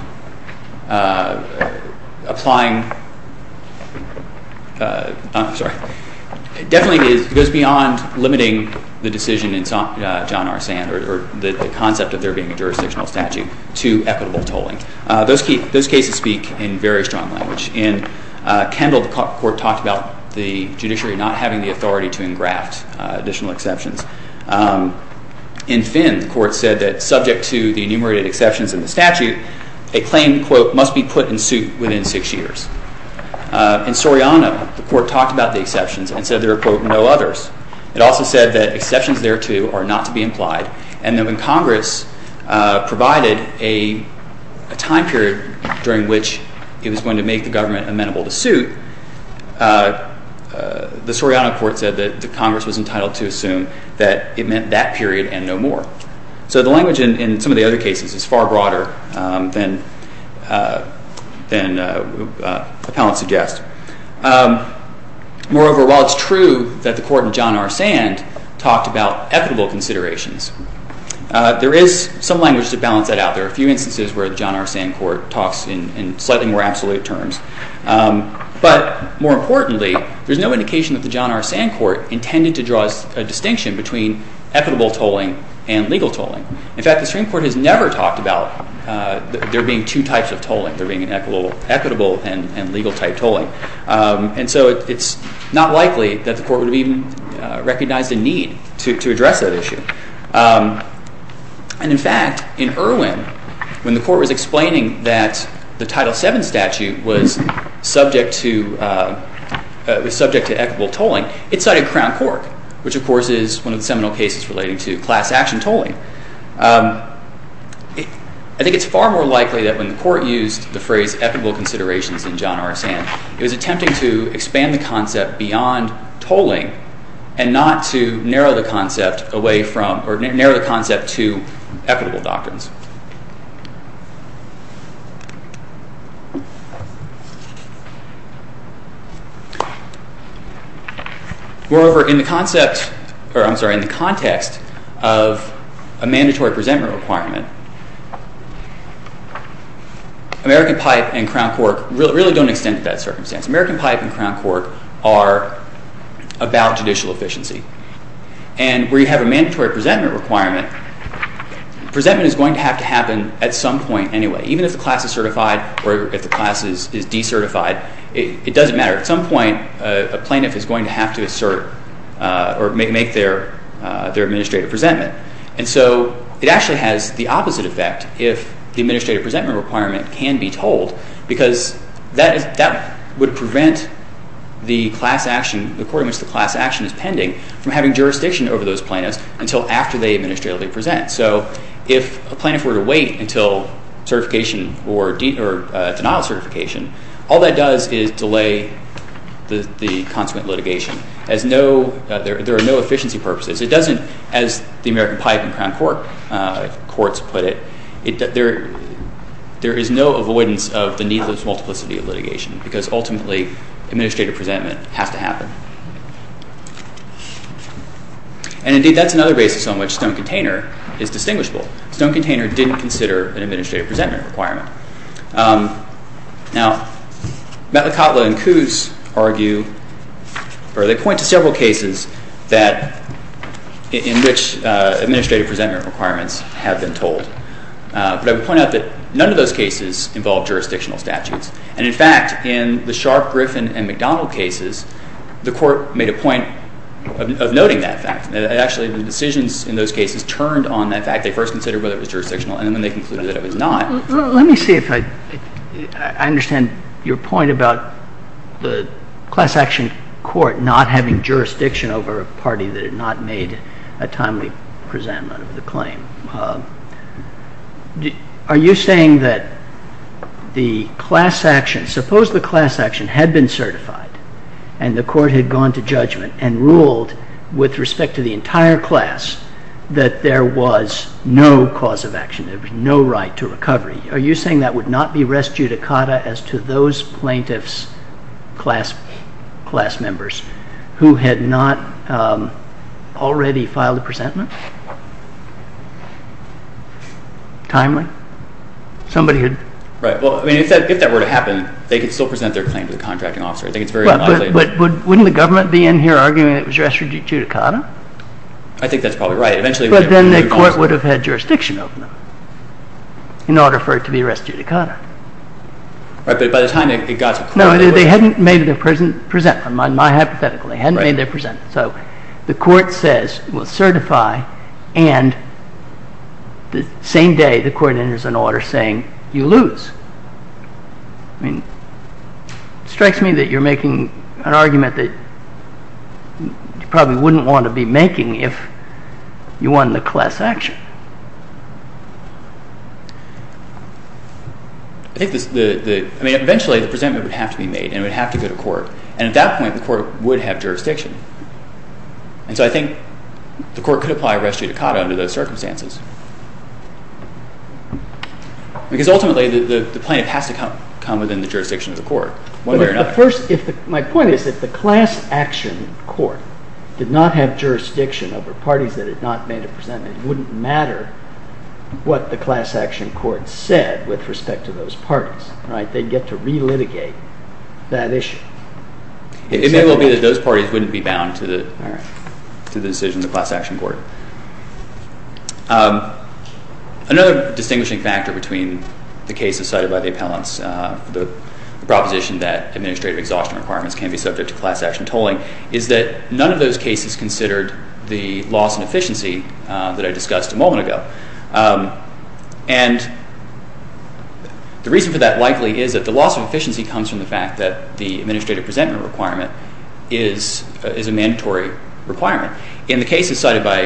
limiting the decision in John R. Sand or the concept of there being a jurisdictional statute to equitable tolling. Those cases speak in very strong language. In Kendall, the Court talked about the judiciary not having the authority to engraft additional exceptions. In Finn, the Court said that subject to the enumerated exceptions in the statute, a claim, quote, must be put in suit within six years. In Soriano, the Court talked about the exceptions and said there are, quote, no others. It also said that exceptions thereto are not to be implied, and that when Congress provided a time period during which it was going to make the government amenable to suit, the Soriano Court said that Congress was entitled to assume that it meant that period and no more. So the language in some of the other cases is far broader than appellants suggest. Moreover, while it's true that the Court in John R. Sand talked about equitable considerations, there is some language to balance that out. There are a few instances where the John R. Sand Court talks in slightly more absolute terms. But more importantly, there's no indication that the John R. Sand Court intended to draw a distinction between equitable tolling and legal tolling. In fact, the Supreme Court has never talked about there being two types of tolling, there being an equitable and legal-type tolling. And so it's not likely that the Court would have even recognized a need to address that issue. And in fact, in Irwin, when the Court was explaining that the Title VII statute was subject to equitable tolling, it cited Crown Court, which, of course, is one of the seminal cases relating to class-action tolling. I think it's far more likely that when the Court used the phrase equitable considerations in John R. Sand, it was attempting to expand the concept beyond tolling and not to narrow the concept to equitable doctrines. Moreover, in the context of a mandatory presentment requirement, American Pipe and Crown Court really don't extend to that circumstance. American Pipe and Crown Court are about judicial efficiency. And where you have a mandatory presentment requirement, presentment is going to have to happen at some point anyway. Even if the class is certified or if the class is decertified, it doesn't matter. At some point, a plaintiff is going to have to assert or make their administrative presentment. And so it actually has the opposite effect if the administrative presentment requirement can be tolled, because that would prevent the court in which the class action is pending from having jurisdiction over those plaintiffs until after they administratively present. So if a plaintiff were to wait until denial of certification, all that does is delay the consequent litigation. There are no efficiency purposes. It doesn't, as the American Pipe and Crown Court courts put it, there is no avoidance of the needless multiplicity of litigation, because ultimately administrative presentment has to happen. And indeed, that's another basis on which Stone-Container is distinguishable. Stone-Container didn't consider an administrative presentment requirement. Now, Matlakotla and Coos argue, or they point to several cases in which administrative presentment requirements have been tolled. But I would point out that none of those cases involve jurisdictional statutes. And in fact, in the Sharpe, Griffin, and McDonald cases, the court made a point of noting that fact. Actually, the decisions in those cases turned on that fact. They first considered whether it was jurisdictional, and then they concluded that it was not. Let me see if I understand your point about the class action court not having jurisdiction over a party that had not made a timely presentment of the claim. Are you saying that the class action, suppose the class action had been certified, and the court had gone to judgment and ruled with respect to the entire class that there was no cause of action, there would be no right to recovery. Are you saying that would not be res judicata as to those plaintiffs' class members who had not already filed a presentment? Timely? Right. Well, if that were to happen, they could still present their claim to the contracting officer. I think it's very unlikely. But wouldn't the government be in here arguing that it was res judicata? I think that's probably right. But then the court would have had jurisdiction over them in order for it to be res judicata. Right. But by the time it got to court, it was— No, they hadn't made their presentment, in my hypothetical. They hadn't made their presentment. So the court says it was certified, and the same day the court enters an order saying you lose. I mean, it strikes me that you're making an argument that you probably wouldn't want to be making if you won the class action. I think the—I mean, eventually the presentment would have to be made, and it would have to go to court. And at that point, the court would have jurisdiction. And so I think the court could apply res judicata under those circumstances. Because ultimately, the plaintiff has to come within the jurisdiction of the court, one way or another. But if the first—my point is if the class action court did not have jurisdiction over parties that had not made a presentment, it wouldn't matter what the class action court said with respect to those parties. Right? They'd get to relitigate that issue. It may well be that those parties wouldn't be bound to the decision of the class action court. Another distinguishing factor between the cases cited by the appellants, the proposition that administrative exhaustion requirements can be subject to class action tolling, is that none of those cases considered the loss in efficiency that I discussed a moment ago. And the reason for that likely is that the loss of efficiency comes from the fact that the administrative presentment requirement is a mandatory requirement. In the cases cited by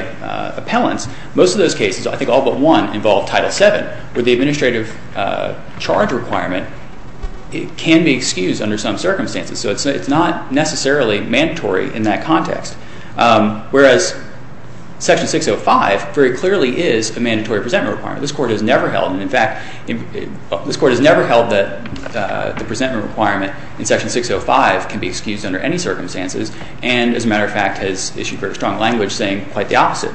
appellants, most of those cases, I think all but one, involve Title VII, where the administrative charge requirement can be excused under some circumstances. So it's not necessarily mandatory in that context. Whereas Section 605 very clearly is a mandatory presentment requirement. This court has never held, and in fact, this court has never held that the presentment requirement in Section 605 can be excused under any circumstances and, as a matter of fact, has issued very strong language saying quite the opposite.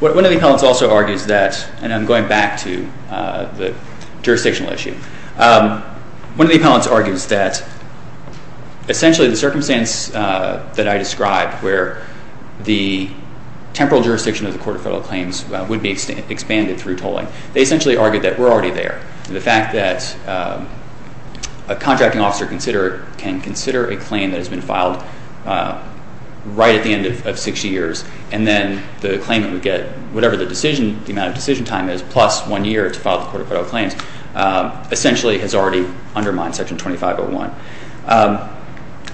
One of the appellants also argues that, and I'm going back to the jurisdictional issue, One of the appellants argues that essentially the circumstance that I described, where the temporal jurisdiction of the Court of Federal Claims would be expanded through tolling, they essentially argued that we're already there. And the fact that a contracting officer can consider a claim that has been filed right at the end of 60 years, and then the claimant would get whatever the decision, the amount of decision time is, plus one year to file the Court of Federal Claims, essentially has already undermined Section 2501.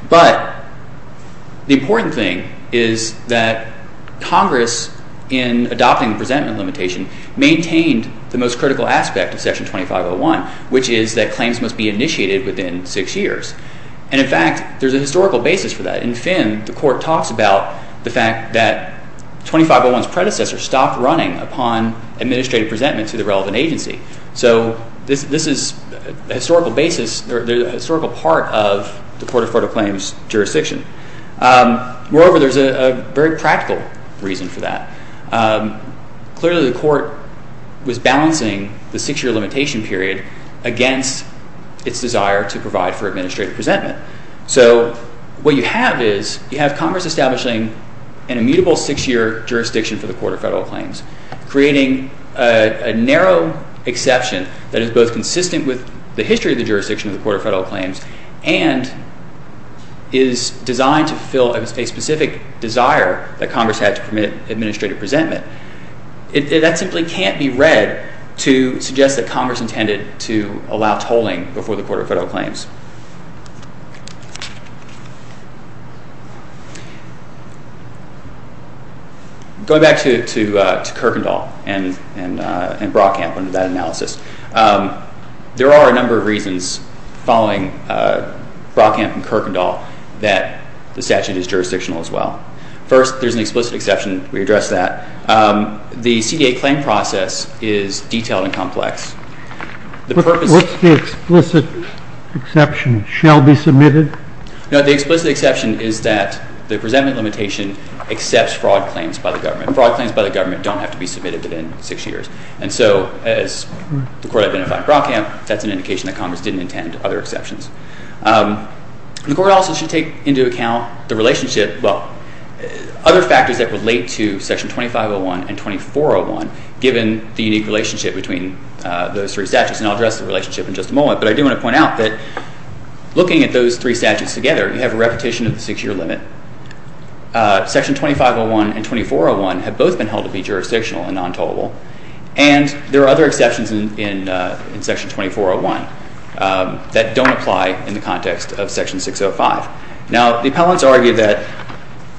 But the important thing is that Congress, in adopting the presentment limitation, maintained the most critical aspect of Section 2501, which is that claims must be initiated within six years. And in fact, there's a historical basis for that. In Finn, the Court talks about the fact that 2501's predecessor stopped running upon administrative presentment to the relevant agency. So this is a historical basis, a historical part of the Court of Federal Claims jurisdiction. Moreover, there's a very practical reason for that. Clearly, the Court was balancing the six-year limitation period against its desire to provide for administrative presentment. So what you have is you have Congress establishing an immutable six-year jurisdiction for the Court of Federal Claims, creating a narrow exception that is both consistent with the history of the jurisdiction of the Court of Federal Claims and is designed to fulfill a specific desire that Congress had to permit administrative presentment. That simply can't be read to suggest that Congress intended to allow tolling before the Court of Federal Claims. Going back to Kierkegaard and Brockamp and that analysis, there are a number of reasons following Brockamp and Kierkegaard that the statute is jurisdictional as well. First, there's an explicit exception. We addressed that. What's the explicit exception? Shall be submitted? No, the explicit exception is that the presentment limitation accepts fraud claims by the government. Fraud claims by the government don't have to be submitted within six years. And so as the Court identified in Brockamp, that's an indication that Congress didn't intend other exceptions. The Court also should take into account the relationship, well, other factors that relate to Section 2501 and 2401, given the unique relationship between those three statutes. And I'll address the relationship in just a moment. But I do want to point out that looking at those three statutes together, you have a repetition of the six-year limit. Section 2501 and 2401 have both been held to be jurisdictional and non-tollable. And there are other exceptions in Section 2401 that don't apply in the context of Section 605. Now, the appellants argue that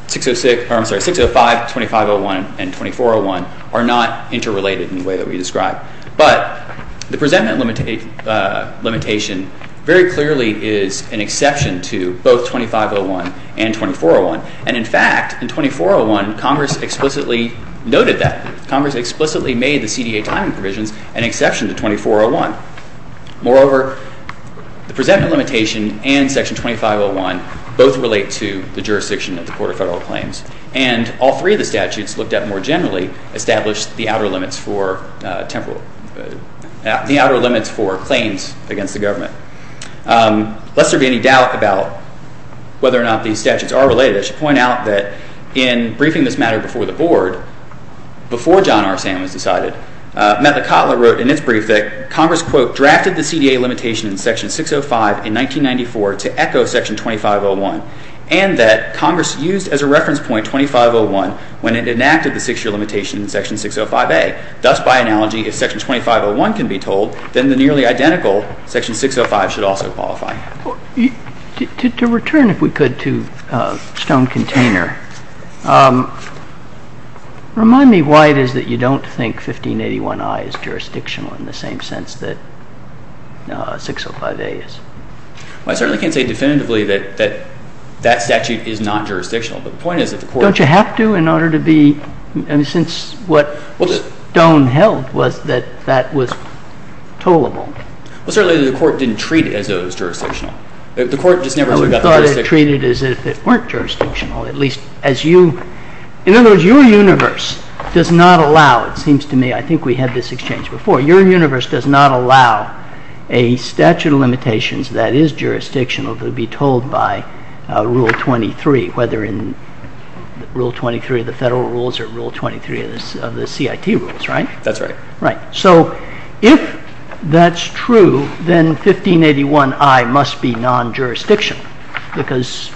605, 2501, and 2401 are not interrelated in the way that we described. But the presentment limitation very clearly is an exception to both 2501 and 2401. And in fact, in 2401, Congress explicitly noted that. Congress explicitly made the CDA timing provisions an exception to 2401. Moreover, the presentment limitation and Section 2501 both relate to the jurisdiction of the Court of Federal Claims. And all three of the statutes looked at more generally established the outer limits for claims against the government. Lest there be any doubt about whether or not these statutes are related, I should point out that in briefing this matter before the Board, before John R. Sam was decided, Mettler-Cotler wrote in its brief that Congress, quote, drafted the CDA limitation in Section 605 in 1994 to echo Section 2501, and that Congress used as a reference point 2501 when it enacted the six-year limitation in Section 605A. Thus, by analogy, if Section 2501 can be told, then the nearly identical Section 605 should also qualify. To return, if we could, to Stone-Container, remind me why it is that you don't think 1581I is jurisdictional in the same sense that 605A is. Well, I certainly can't say definitively that that statute is non-jurisdictional. But the point is that the Court— Don't you have to in order to be—I mean, since what Stone held was that that was tollable. Well, certainly the Court didn't treat it as though it was jurisdictional. The Court just never— No, we thought it treated as if it weren't jurisdictional, at least as you— in other words, your universe does not allow, it seems to me, I think we had this exchange before, your universe does not allow a statute of limitations that is jurisdictional to be told by Rule 23, whether in Rule 23 of the federal rules or Rule 23 of the CIT rules, right? That's right. Right. So if that's true, then 1581I must be non-jurisdictional because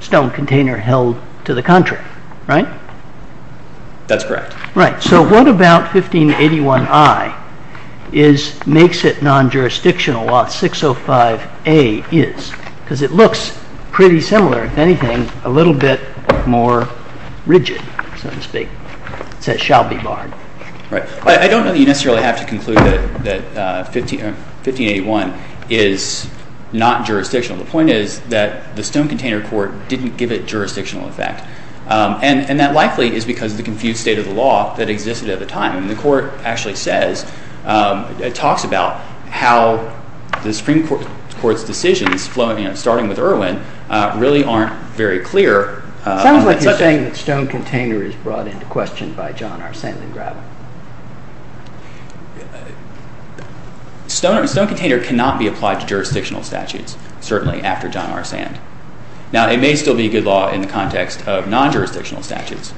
Stone-Container held to the contrary, right? That's correct. Right. So what about 1581I makes it non-jurisdictional while 605A is? Because it looks pretty similar, if anything, a little bit more rigid, so to speak. It says, shall be barred. Right. I don't know that you necessarily have to conclude that 1581 is not jurisdictional. The point is that the Stone-Container Court didn't give it jurisdictional effect, and that likely is because of the confused state of the law that existed at the time. I mean, the Court actually says, it talks about how the Supreme Court's decisions, starting with Irwin, really aren't very clear on that subject. You're saying that Stone-Container is brought into question by John R. Sand and Gravel. Stone-Container cannot be applied to jurisdictional statutes, certainly after John R. Sand. Now, it may still be a good law in the context of non-jurisdictional statutes.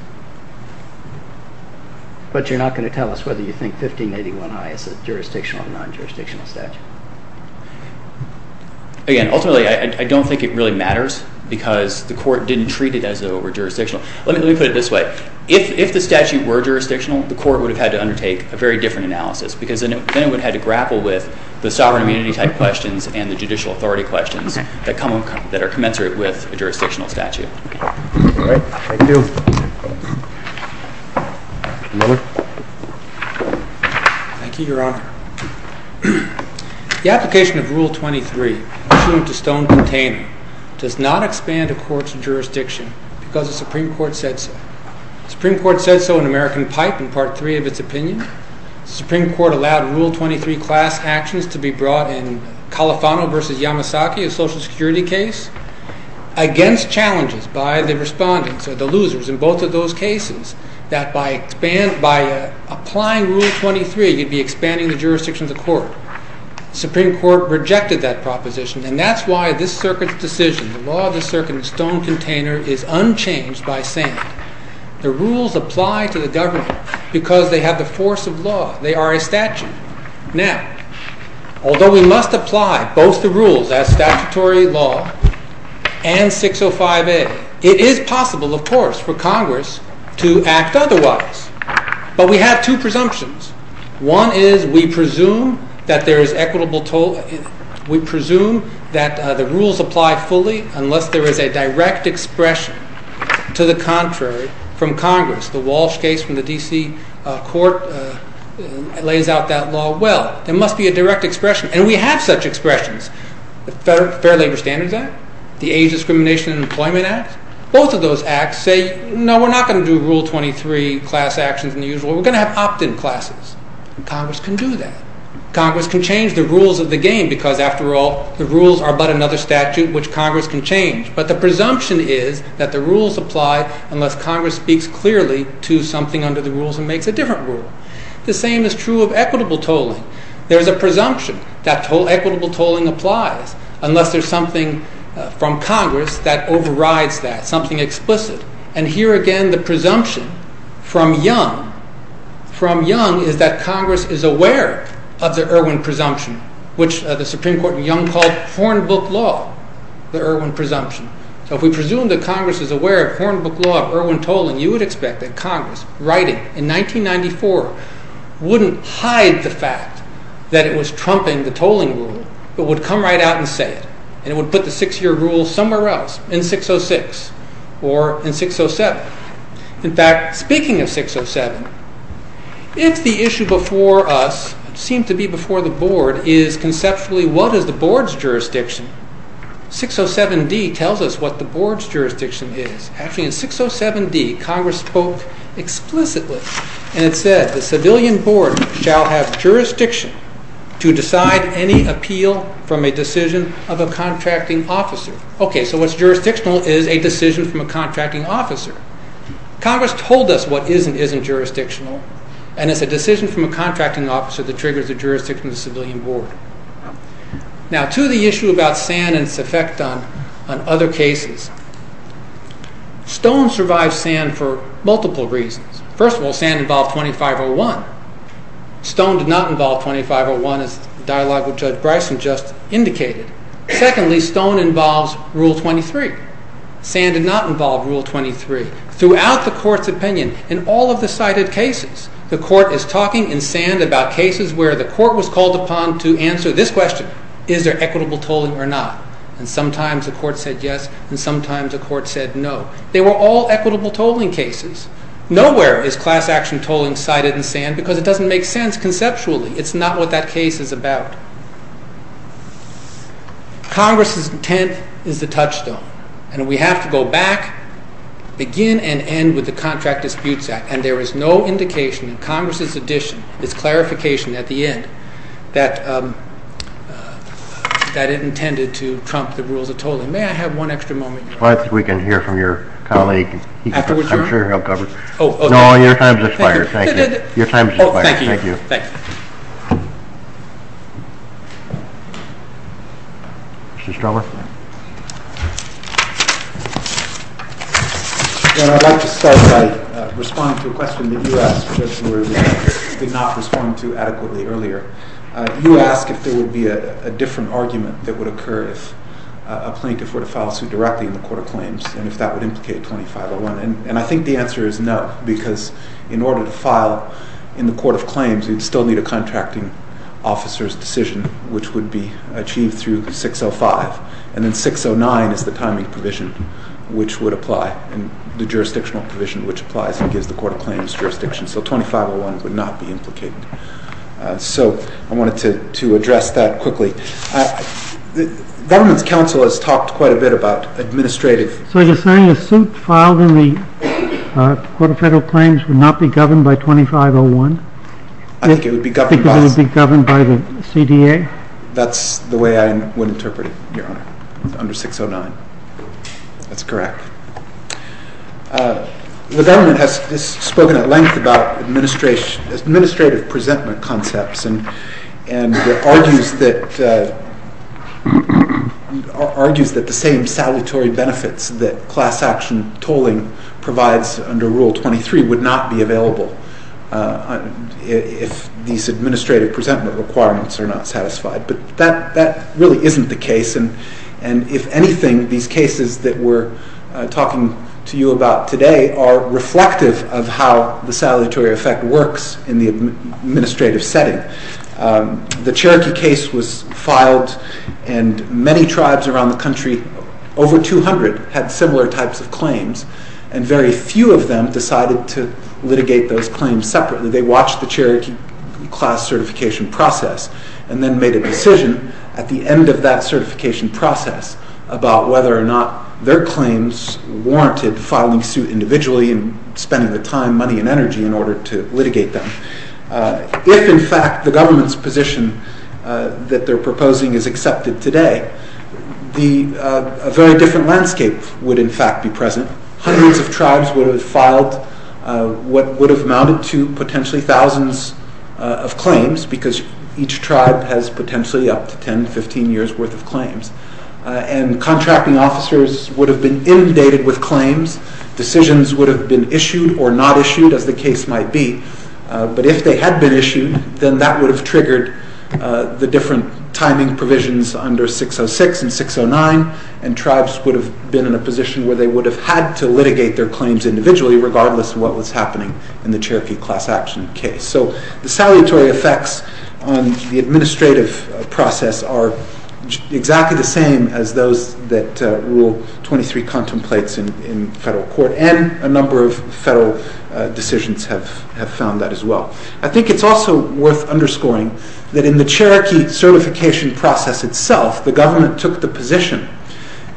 But you're not going to tell us whether you think 1581I is a jurisdictional or non-jurisdictional statute. Again, ultimately, I don't think it really matters, because the Court didn't treat it as though it were jurisdictional. Let me put it this way. If the statute were jurisdictional, the Court would have had to undertake a very different analysis, because then it would have had to grapple with the sovereign immunity type questions and the judicial authority questions that are commensurate with a jurisdictional statute. All right. Thank you. Thank you, Your Honor. The application of Rule 23, pursuant to Stone-Container, does not expand a court's jurisdiction because the Supreme Court said so. The Supreme Court said so in American Pipe in Part 3 of its opinion. The Supreme Court allowed Rule 23 class actions to be brought in Califano v. Yamasaki, a Social Security case, against challenges by the respondents or the losers in both of those cases, that by applying Rule 23, you'd be expanding the jurisdiction of the Court. The Supreme Court rejected that proposition, and that's why this Circuit's decision, the law of the Circuit in Stone-Container, is unchanged by sand. The rules apply to the government because they have the force of law. They are a statute. Now, although we must apply both the rules as statutory law and 605A, it is possible, of course, for Congress to act otherwise. But we have two presumptions. One is we presume that the rules apply fully unless there is a direct expression to the contrary from Congress. The Walsh case from the D.C. Court lays out that law well. There must be a direct expression, and we have such expressions. The Fair Labor Standards Act, the Age Discrimination and Employment Act, both of those acts say, no, we're not going to do Rule 23 class actions in the usual way. We're going to have opt-in classes, and Congress can do that. Congress can change the rules of the game because, after all, the rules are but another statute which Congress can change. But the presumption is that the rules apply unless Congress speaks clearly to something under the rules and makes a different rule. The same is true of equitable tolling. There is a presumption that equitable tolling applies unless there is something from Congress that overrides that, something explicit. And here again the presumption from Young is that Congress is aware of the Irwin presumption, which the Supreme Court in Young called Hornbook Law, the Irwin presumption. So if we presume that Congress is aware of Hornbook Law, of Irwin tolling, you would expect that Congress, writing in 1994, wouldn't hide the fact that it was trumping the tolling rule, but would come right out and say it. And it would put the six-year rule somewhere else, in 606 or in 607. In fact, speaking of 607, if the issue before us, seemed to be before the Board, is conceptually what is the Board's jurisdiction, 607d tells us what the Board's jurisdiction is. Actually, in 607d, Congress spoke explicitly, and it said, the Civilian Board shall have jurisdiction to decide any appeal from a decision of a contracting officer. Okay, so what's jurisdictional is a decision from a contracting officer. Congress told us what is and isn't jurisdictional, and it's a decision from a contracting officer that triggers the jurisdiction of the Civilian Board. Now, to the issue about sand and its effect on other cases. Stone survived sand for multiple reasons. First of all, sand involved 2501. Stone did not involve 2501, as the dialogue with Judge Bryson just indicated. Secondly, stone involves Rule 23. Sand did not involve Rule 23. Throughout the Court's opinion, in all of the cited cases, the Court is talking in sand about cases where the Court was called upon to answer this question, is there equitable tolling or not? And sometimes the Court said yes, and sometimes the Court said no. They were all equitable tolling cases. Nowhere is class action tolling cited in sand because it doesn't make sense conceptually. It's not what that case is about. Congress's intent is the touchstone, and we have to go back, begin and end with the Contract Disputes Act, and there is no indication in Congress's addition, this clarification at the end, that it intended to trump the rules of tolling. May I have one extra moment? Well, I think we can hear from your colleague. Afterward term? No, your time's expired. Thank you. Your time's expired. Thank you. Mr. Strover? I'd like to start by responding to a question that you asked, which I did not respond to adequately earlier. You asked if there would be a different argument that would occur if a plaintiff were to file a suit directly in the Court of Claims, and if that would implicate 2501. And I think the answer is no, because in order to file in the Court of Claims, you'd still need a contracting officer's decision, which would be achieved through 605. And then 609 is the timing provision which would apply, the jurisdictional provision which applies and gives the Court of Claims jurisdiction. So 2501 would not be implicated. So I wanted to address that quickly. Government's counsel has talked quite a bit about administrative... So you're saying a suit filed in the Court of Federal Claims would not be governed by 2501? I think it would be governed by... Because it would be governed by the CDA? That's the way I would interpret it, Your Honor, under 609. That's correct. The government has spoken at length about administrative presentment concepts and argues that the same salutary benefits that class action tolling provides under Rule 23 would not be available if these administrative presentment requirements are not satisfied. But that really isn't the case. And if anything, these cases that we're talking to you about today are reflective of how the salutary effect works in the administrative setting. The Cherokee case was filed, and many tribes around the country, over 200, had similar types of claims, and very few of them decided to litigate those claims separately. They watched the Cherokee class certification process and then made a decision at the end of that certification process about whether or not their claims warranted filing suit individually and spending the time, money, and energy in order to litigate them. If, in fact, the government's position that they're proposing is accepted today, a very different landscape would, in fact, be present. Hundreds of tribes would have filed what would have amounted to potentially thousands of claims because each tribe has potentially up to 10, 15 years' worth of claims. And contracting officers would have been inundated with claims. Decisions would have been issued or not issued, as the case might be. But if they had been issued, then that would have triggered the different timing provisions under 606 and 609, and tribes would have been in a position where they would have had to litigate their claims individually regardless of what was happening in the Cherokee class action case. So the salutary effects on the administrative process are exactly the same as those that Rule 23 contemplates in federal court, and a number of federal decisions have found that as well. I think it's also worth underscoring that in the Cherokee certification process itself, the government took the position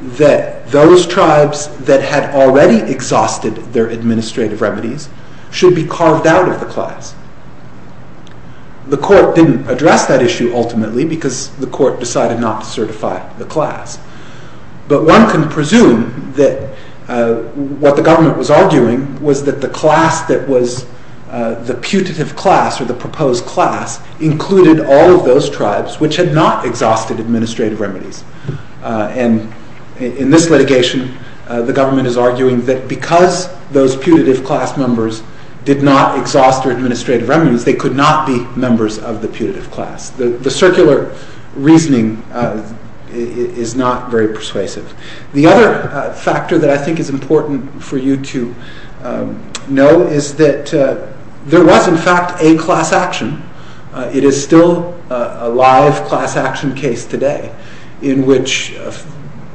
that those tribes that had already exhausted their administrative remedies should be carved out of the class. The court didn't address that issue, ultimately, because the court decided not to certify the class. But one can presume that what the government was arguing was that the class that was the putative class, or the proposed class, included all of those tribes which had not exhausted administrative remedies. And in this litigation, the government is arguing that because those putative class members did not exhaust their administrative remedies, they could not be members of the putative class. The circular reasoning is not very persuasive. The other factor that I think is important for you to know is that there was in fact a class action. It is still a live class action case today, in which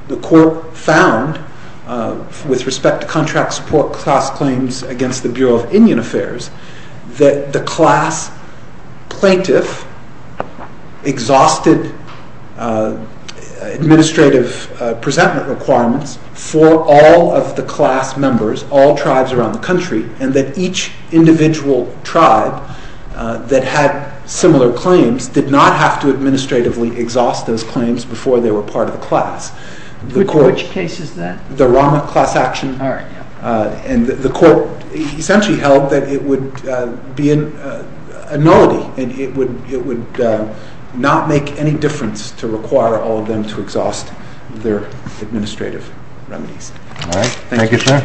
the court found, with respect to contract support class claims against the Bureau of Indian Affairs, that the class plaintiff exhausted administrative presentment requirements for all of the class members, all tribes around the country, and that each individual tribe that had similar claims did not have to administratively exhaust those claims before they were part of the class. Which case is that? The Rama class action. And the court essentially held that it would be a nullity, and it would not make any difference to require all of them to exhaust their administrative remedies. Thank you, sir. The case is submitted.